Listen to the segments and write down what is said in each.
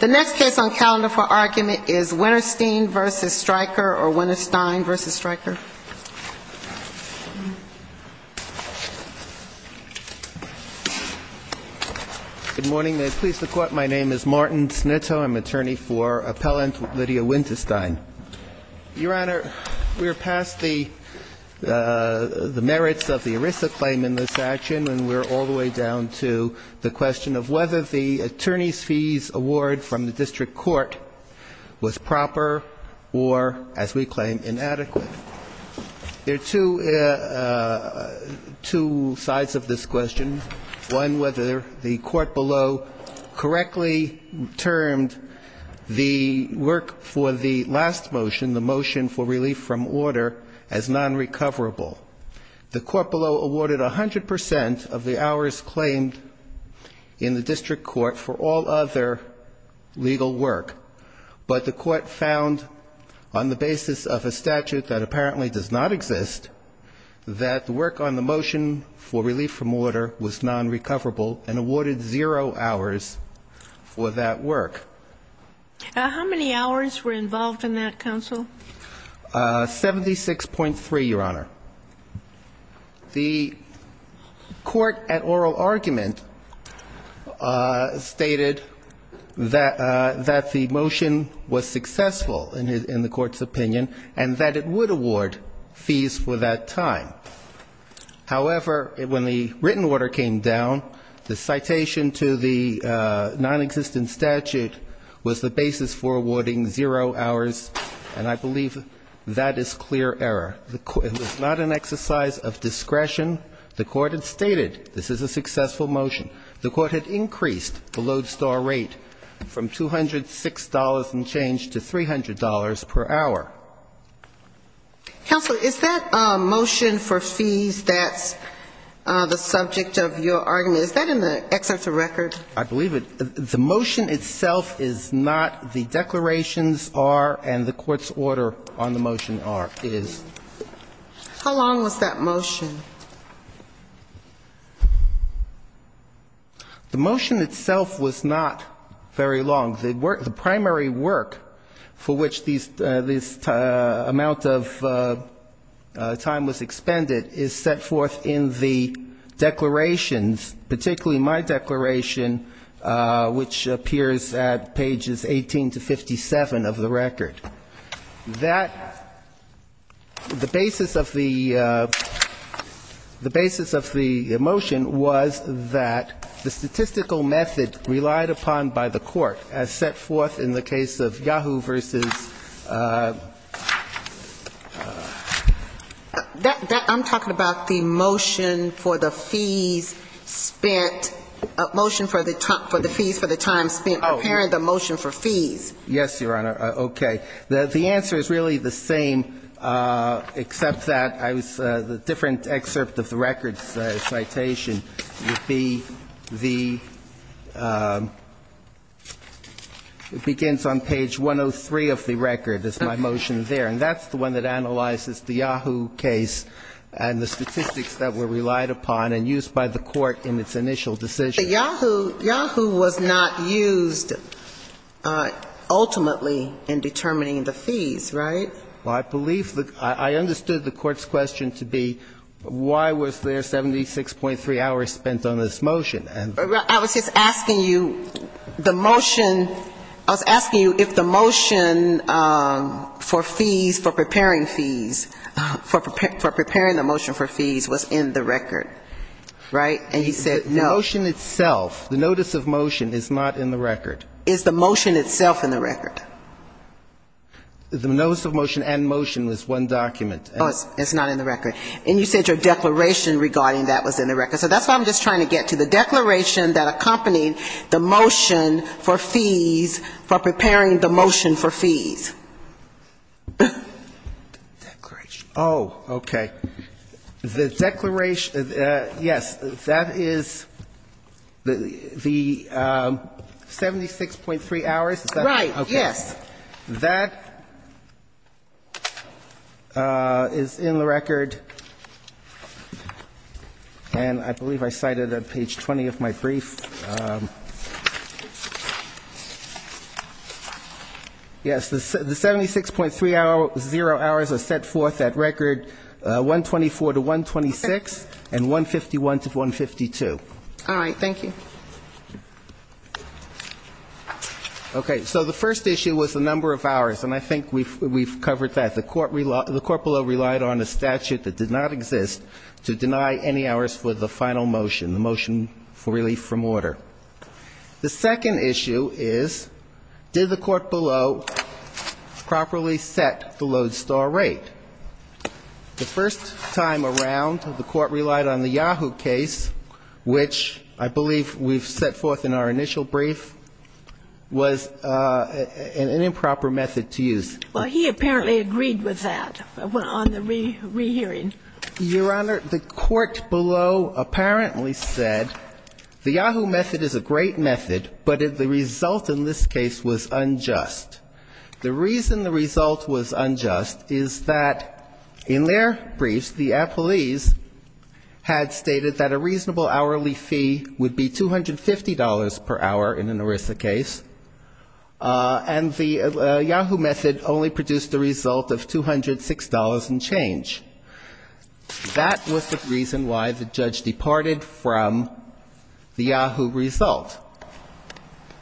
The next case on calendar for argument is Winnerstein v. Stryker or Winnerstein v. Stryker. Good morning. May it please the Court, my name is Martin Sneto. I'm attorney for Appellant Lydia Winterstein. Your Honor, we are past the merits of the ERISA claim in this action, and we're all the way down to the question of whether the attorney's fees award from the district court was proper or, as we claim, inadequate. There are two sides of this question, one whether the court below correctly termed the work for the last motion, the motion for relief from order, as nonrecoverable. The court below awarded 100 percent of the hours claimed in the district court for all other legal work. But the court found, on the basis of a statute that apparently does not exist, that the work on the motion for relief from order was nonrecoverable and awarded zero hours for that work. How many hours were involved in that, counsel? 76.3, Your Honor. The court at oral argument stated that the motion was successful in the court's opinion and that it would award fees for that time. However, when the written order came down, the citation to the nonexistent statute was the basis for awarding zero hours, and I believe that is clear error. It was not an exercise of discretion. The court had stated this is a successful motion. The court had increased the lodestar rate from $206 and changed to $300 per hour. Counsel, is that motion for fees that's the subject of your argument, is that in the excerpt of record? I believe it. The motion itself is not. The declarations are and the court's order on the motion are, is. How long was that motion? The motion itself was not very long. The primary work for which this amount of time was expended is set forth in the declarations, particularly my declaration, which appears at pages 18 to 57 of the record. That the basis of the motion was that the statistical method relied upon by the court as set forth in the case of Yahoo! versus ---- I'm talking about the motion for the fees spent, motion for the fees for the time spent preparing the motion for fees. Yes, Your Honor. Okay. The answer is really the same, except that the different excerpt of the record's citation would be the ---- it begins on page 103 of the record, is my motion there. And that's the one that analyzes the Yahoo! case and the statistics that were relied upon and used by the court in its initial decision. So Yahoo! was not used ultimately in determining the fees, right? Well, I believe the ---- I understood the court's question to be why was there 76.3 hours spent on this motion. I was just asking you the motion ---- I was asking you if the motion for fees, for preparing fees, for preparing the motion for fees was in the record, right? And you said no. The motion itself, the notice of motion, is not in the record. Is the motion itself in the record? The notice of motion and motion was one document. Oh, it's not in the record. And you said your declaration regarding that was in the record. So that's what I'm just trying to get to, the declaration that accompanied the motion for fees for preparing the motion for fees. Oh, okay. The declaration ---- yes, that is the 76.3 hours. Right. Yes. That is in the record, and I believe I cited it on page 20 of my brief. Yes, the 76.3 hours, zero hours are set forth at record 124 to 126 and 151 to 152. All right. Thank you. Okay. So the first issue was the number of hours, and I think we've covered that. The court below relied on a statute that did not exist to deny any hours for the final motion, the motion for relief from all fees. That's the first issue. The second issue is did the court below properly set the lodestar rate? The first time around, the court relied on the Yahoo case, which I believe we've set forth in our initial brief, was an improper method to use. Well, he apparently agreed with that on the rehearing. Your Honor, the court below apparently said the Yahoo method is a great method, but the result in this case was unjust. The reason the result was unjust is that in their briefs, the appellees had stated that a reasonable hourly fee would be $250 per hour in an ERISA case, and the Yahoo method only produced a result of $206 and change. That was the reason why the judge departed from the Yahoo result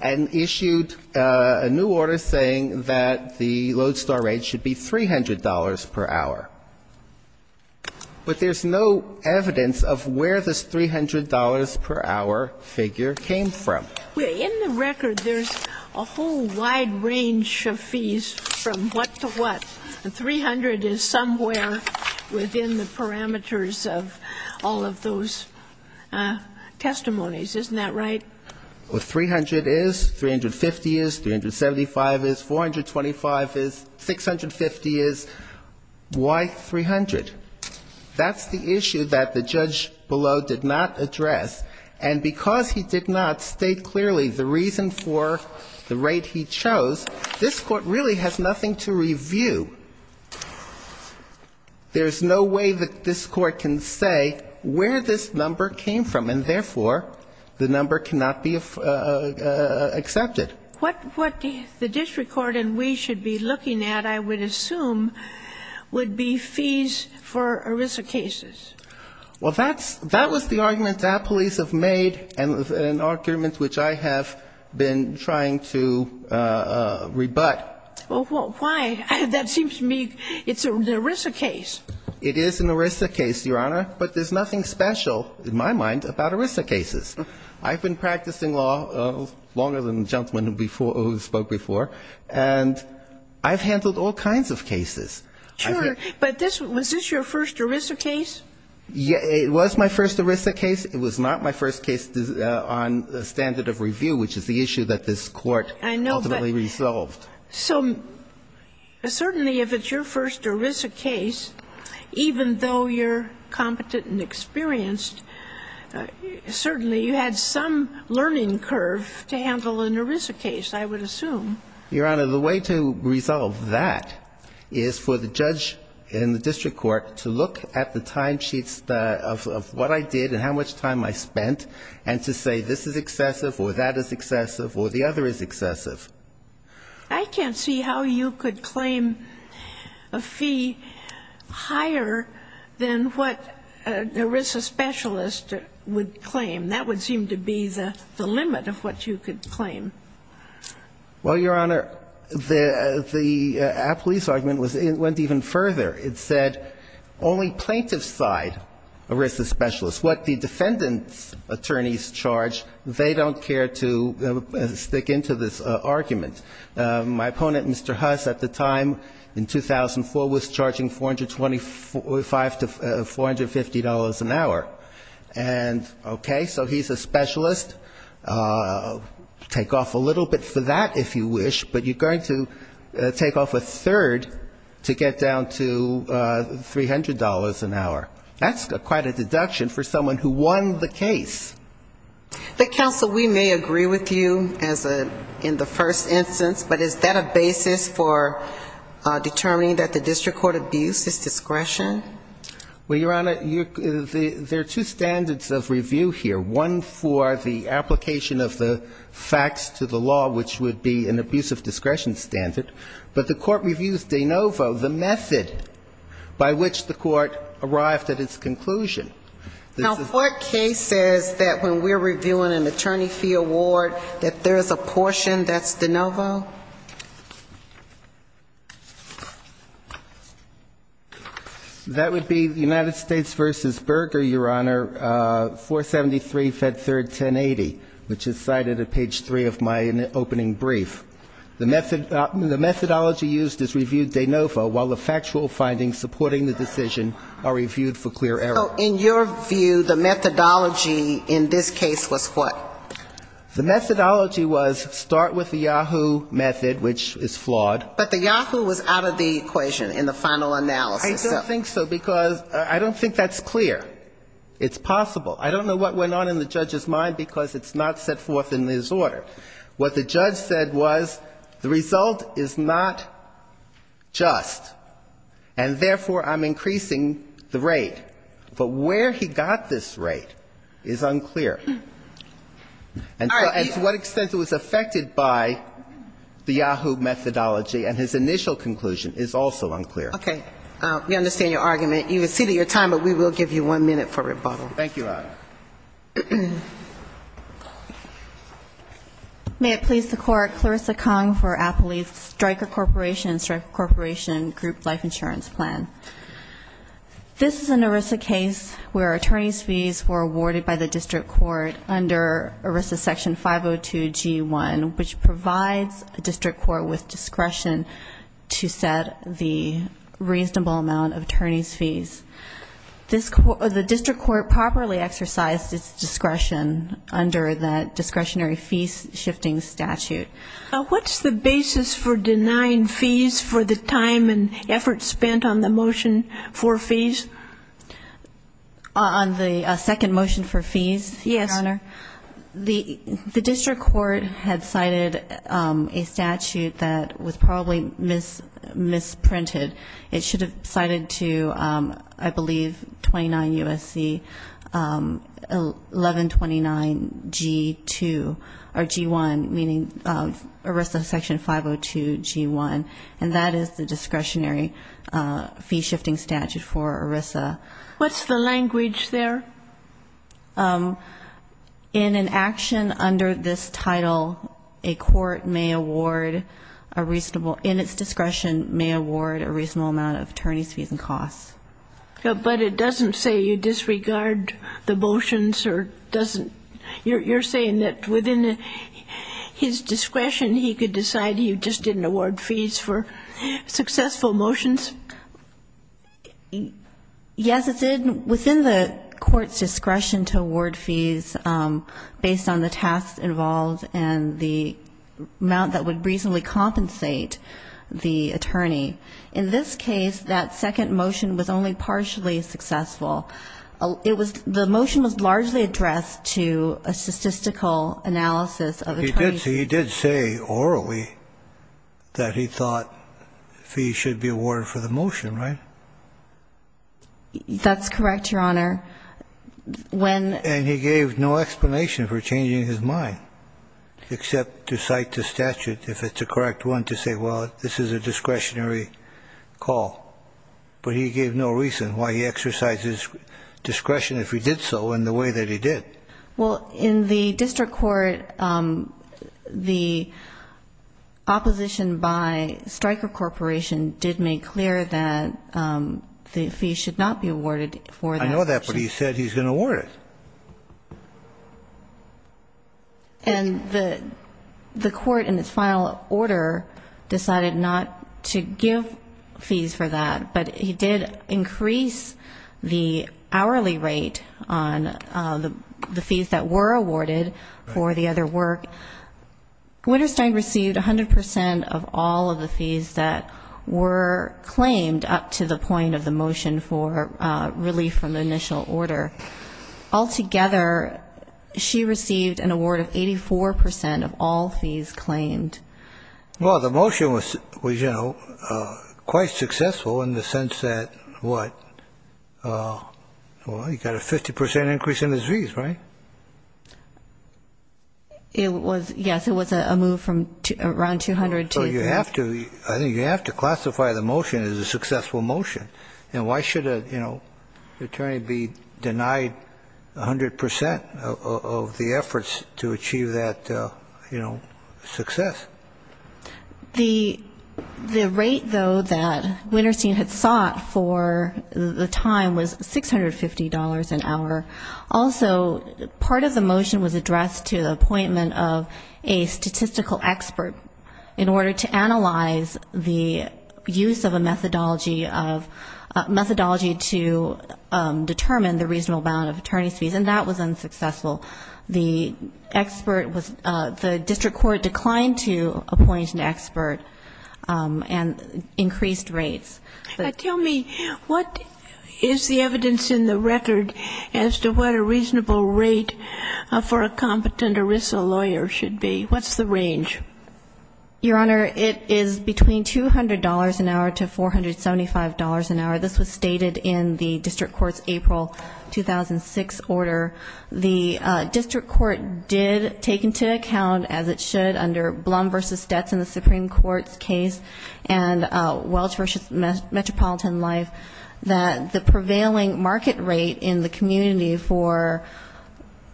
and issued a new order saying that the lodestar rate should be $300 per hour. But there's no evidence of where this $300 per hour figure came from. In the record, there's a whole wide range of fees from what to what. $300 is somewhere within the parameters of all of those testimonies. Isn't that right? $300 is, $350 is, $375 is, $425 is, $650 is. Why $300? That's the issue that the judge below did not address. And because he did not state clearly the reason for the rate he chose, this Court really has nothing to review. There's no way that this Court can say where this number came from, and therefore, the number cannot be accepted. What the district court and we should be looking at, I would assume, would be fees for ERISA cases. Well, that was the argument that police have made and an argument which I have been trying to rebut. Well, why? That seems to me it's an ERISA case. It is an ERISA case, Your Honor, but there's nothing special in my mind about ERISA cases. I've been practicing law longer than the gentleman who spoke before, and I've handled all kinds of cases. Sure. But was this your first ERISA case? It was my first ERISA case. It was not my first case on the standard of review, which is the issue that this Court ultimately resolved. So certainly if it's your first ERISA case, even though you're competent and experienced, certainly you had some learning curve to handle an ERISA case, I would assume. Your Honor, the way to resolve that is for the judge in the district court to look at the timesheets of what I did and how much time I spent and to say this is excessive I can't see how you could claim a fee higher than what an ERISA specialist would claim. That would seem to be the limit of what you could claim. Well, Your Honor, the police argument went even further. It said only plaintiffs side ERISA specialists. What the defendant's attorneys charge, they don't care to stick into this argument. My opponent, Mr. Huss, at the time, in 2004, was charging $425 to $450 an hour. And okay, so he's a specialist. Take off a little bit for that if you wish, but you're going to take off a third to get down to $300 an hour. That's quite a deduction for someone who won the case. But, counsel, we may agree with you in the first instance, but is that a basis for determining that the district court abuse is discretion? Well, Your Honor, there are two standards of review here. One for the application of the facts to the law, which would be an abuse of discretion standard. But the court reviews de novo, the method by which the court arrived at its conclusion. Now, what case says that when we're reviewing an attorney fee award, that there is a portion that's de novo? That would be United States v. Berger, Your Honor, 473, Fed Third, 1080, which is cited at page three of my opening brief. The methodology used is reviewed de novo, while the factual findings supporting the decision are reviewed for clear error. So in your view, the methodology in this case was what? The methodology was start with the Yahoo! method, which is flawed. But the Yahoo! was out of the equation in the final analysis. I don't think so, because I don't think that's clear. It's possible. I don't know what went on in the judge's mind, because it's not set forth in his order. What the judge said was the result is not just, and therefore, I'm increasing the rate. But where he got this rate is unclear. And to what extent it was affected by the Yahoo! methodology and his initial conclusion is also unclear. Okay. We understand your argument. You've exceeded your time, but we will give you one minute for rebuttal. Thank you, Your Honor. May it please the Court, Clarissa Kong for Appley's Stryker Corporation and Stryker Corporation Group Life Insurance Plan. This is an ERISA case where attorney's fees were awarded by the district court under ERISA section 502 G1, which provides a district court with discretion to set the reasonable amount of attorney's fees. The district court properly exercised its discretion under that discretionary fees shifting statute. What's the basis for denying fees for the time and effort spent on the motion for fees? On the second motion for fees, Your Honor? Yes. The district court had cited a statute that was probably misprinted. It should have cited to, I believe, 29 U.S.C. 1129 G2 or G1, meaning ERISA section 502 G1, and that is the discretionary fee shifting statute for ERISA. What's the language there? In an action under this title, a court may award a reasonable, in its discretion, may award a reasonable amount of attorney's fees and costs. But it doesn't say you disregard the motions or doesn't? You're saying that within his discretion he could decide he just didn't award fees for successful motions? As it did within the court's discretion to award fees based on the tasks involved and the amount that would reasonably compensate the attorney. In this case, that second motion was only partially successful. It was the motion was largely addressed to a statistical analysis of attorney's fees. He did say orally that he thought fees should be awarded for the motion, right? That's correct, Your Honor. And he gave no explanation for changing his mind except to cite the statute, if it's a correct one, to say, well, this is a discretionary call. But he gave no reason why he exercised his discretion if he did so in the way that he did. Well, in the district court, the opposition by Stryker Corporation did make clear that the fees should not be awarded for the motion. I know that, but he said he's going to award it. And the court in its final order decided not to give fees for that. But he did increase the hourly rate on the fees that were awarded for the other work. Winterstein received 100 percent of all of the fees that were claimed up to the point of the motion for the motion. That was not relief from the initial order. Altogether, she received an award of 84 percent of all fees claimed. Well, the motion was, you know, quite successful in the sense that, what, you got a 50 percent increase in the fees, right? It was, yes, it was a move from around 200 to. So you have to, I think you have to classify the motion as a successful motion. And why should a, you know, attorney be denied 100 percent of the efforts to achieve that, you know, success? The rate, though, that Winterstein had sought for the time was $650 an hour. Also, part of the motion was addressed to the appointment of a statistical expert in order to determine the reasonable amount of attorney's fees. And that was unsuccessful. The expert was, the district court declined to appoint an expert and increased rates. Tell me, what is the evidence in the record as to what a reasonable rate for a competent ERISA lawyer should be? What's the range? Your Honor, it is between $200 an hour to $475 an hour. This was stated in the district court's April 2006 order. The district court did take into account, as it should under Blum v. Stetz in the Supreme Court's case and Welch v. Metropolitan Life, that the prevailing market rate in the community for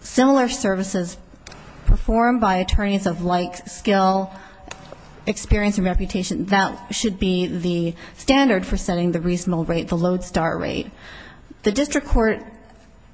similar services performed by attorneys of like skill, experience and reputation, that should be the standard for setting the reasonable rate, the LODESTAR rate. The district court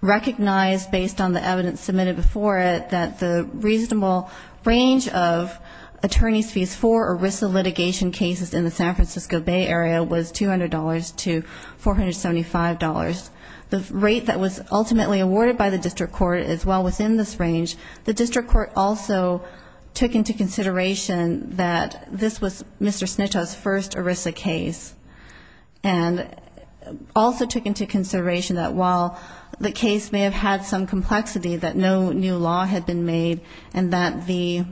recognized, based on the evidence submitted before it, that the reasonable range of attorney's fees for ERISA litigation cases in the San Francisco Bay area was $200 to $475. The rate that was ultimately awarded by the district court is well within this range. The district court also took into consideration that this was Mr. Snitow's first ERISA case, and also took into consideration that while the case may have had some complexity, that no new law had been made, and that the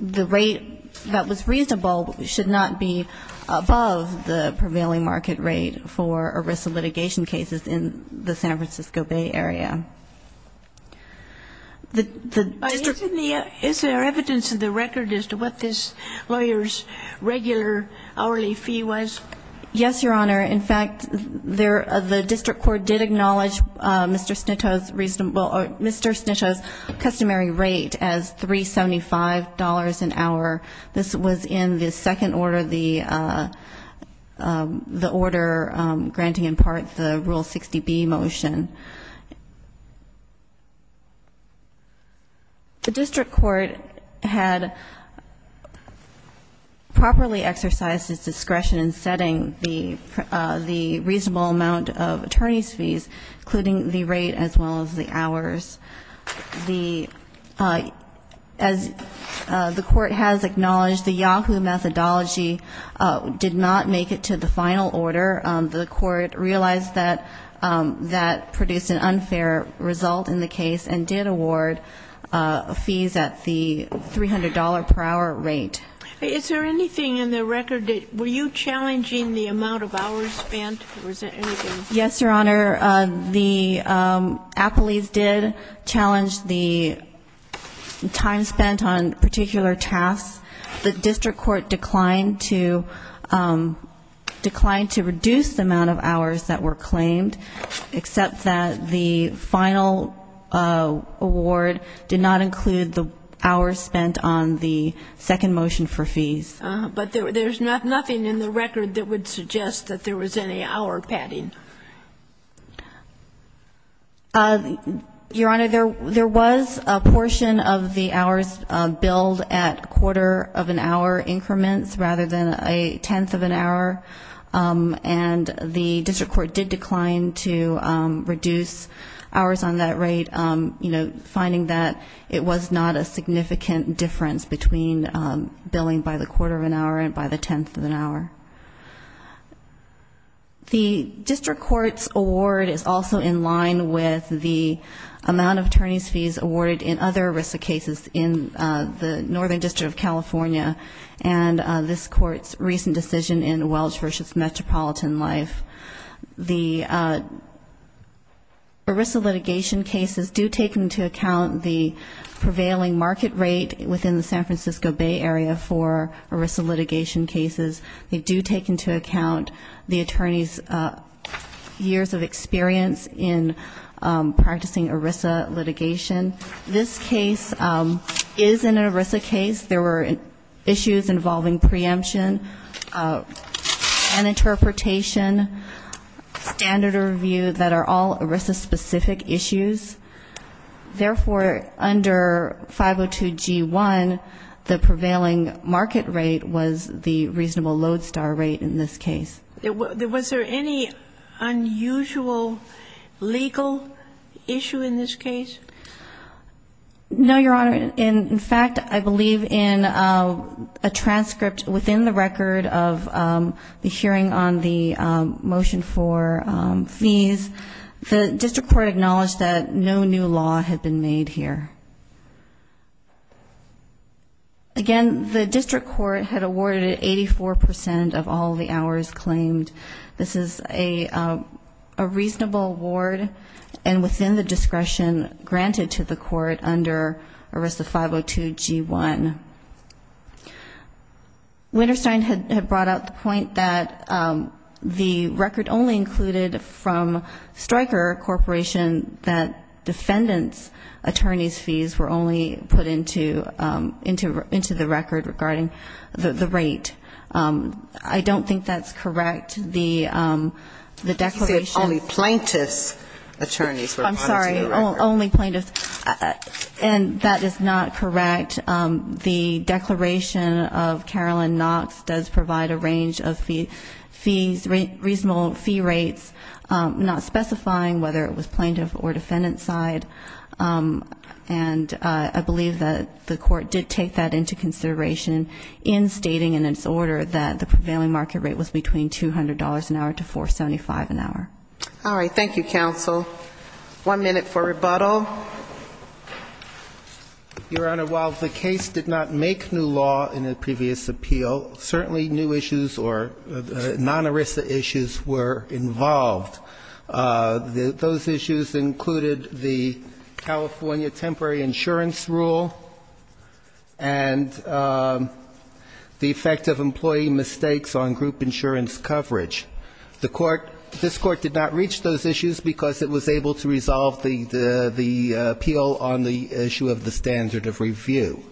rate that was reasonable should not be above the prevailing market rate for ERISA litigation cases in the San Francisco Bay area. Is there evidence in the record as to what this lawyer's regular hourly fee was? Yes, Your Honor. In fact, the district court did acknowledge Mr. Snitow's customary rate as $375 an hour. This was in the second order, the order granting in part the Rule 60B motion. The district court had properly exercised its discretion in setting the customary rate as $375 an hour. The reasonable amount of attorney's fees, including the rate as well as the hours. As the court has acknowledged, the Yahoo methodology did not make it to the final order. The court realized that that produced an unfair result in the case and did award fees at the $300 per hour rate. Is there anything in the record that, were you challenging the amount of hours spent, or is there anything? Yes, Your Honor. The appellees did challenge the time spent on particular tasks. The district court declined to, declined to reduce the amount of hours that were claimed, except that the final award did not include the hours spent on the second motion in the second order. But there's nothing in the record that would suggest that there was any hour padding. Your Honor, there was a portion of the hours billed at quarter of an hour increments rather than a tenth of an hour. And the district court did decline to reduce hours on that rate, you know, finding that it was not a significant difference between billing by the quarter of an hour and by the tenth of an hour. The district court's award is also in line with the amount of attorney's fees awarded in other ERISA cases in the Northern District of California, and this court's recent decision in Welch v. Metropolitan Life. The ERISA litigation cases do take into account the prevailing market rate within the San Francisco area, for ERISA litigation cases. They do take into account the attorney's years of experience in practicing ERISA litigation. This case is an ERISA case. There were issues involving preemption, an interpretation, standard review that are all ERISA specific issues. Therefore, under 502G1, the prevailing market rate was the reasonable lodestar rate in this case. Was there any unusual legal issue in this case? No, Your Honor. In fact, I believe in a transcript within the record of the hearing on the motion for fees, the district court acknowledged that no new law had been made here. Again, the district court had awarded 84 percent of all the hours claimed. This is a reasonable award, and within the discretion granted to the court under ERISA 502G1. Winterstein had brought out the point that the record only included from Stryker Corporation that there were no other defendant's attorney's fees were only put into the record regarding the rate. I don't think that's correct. You said only plaintiff's attorneys were put into the record. I'm sorry, only plaintiffs, and that is not correct. The declaration of Carolyn Knox does provide a range of fees, reasonable fee rates, not specifying whether it was plaintiff or plaintiff's side, and I believe that the court did take that into consideration in stating in its order that the prevailing market rate was between $200 an hour to $475 an hour. All right. Thank you, counsel. One minute for rebuttal. Your Honor, while the case did not make new law in a previous appeal, certainly new issues or non-ERISA issues were involved. Those issues included the California temporary insurance rule and the effect of employee mistakes on group insurance coverage. The court, this court did not reach those issues because it was able to resolve the appeal on the issue of the standard of review.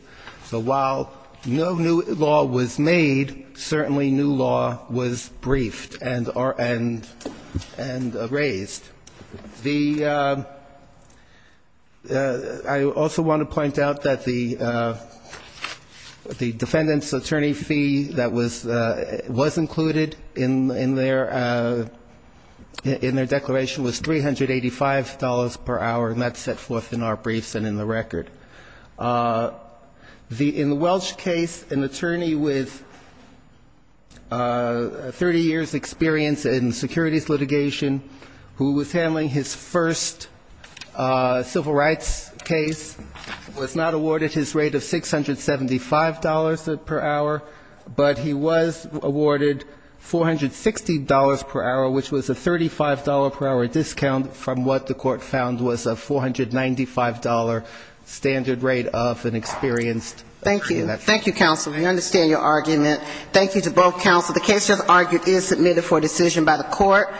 So while no new law was made, certainly new law was briefed and raised. I also want to point out that the defendant's attorney fee that was included in the statute in their declaration was $385 per hour, and that's set forth in our briefs and in the record. In the Welch case, an attorney with 30 years' experience in securities litigation who was handling his first civil rights case was not awarded his rate of $675 per hour, but he was awarded $460 per hour, which was a $35 per hour discount from what the court found was a $495 standard rate of an experienced attorney. Thank you. Thank you, counsel. We understand your argument. Thank you to both counsel. The case just argued is submitted for decision by the court.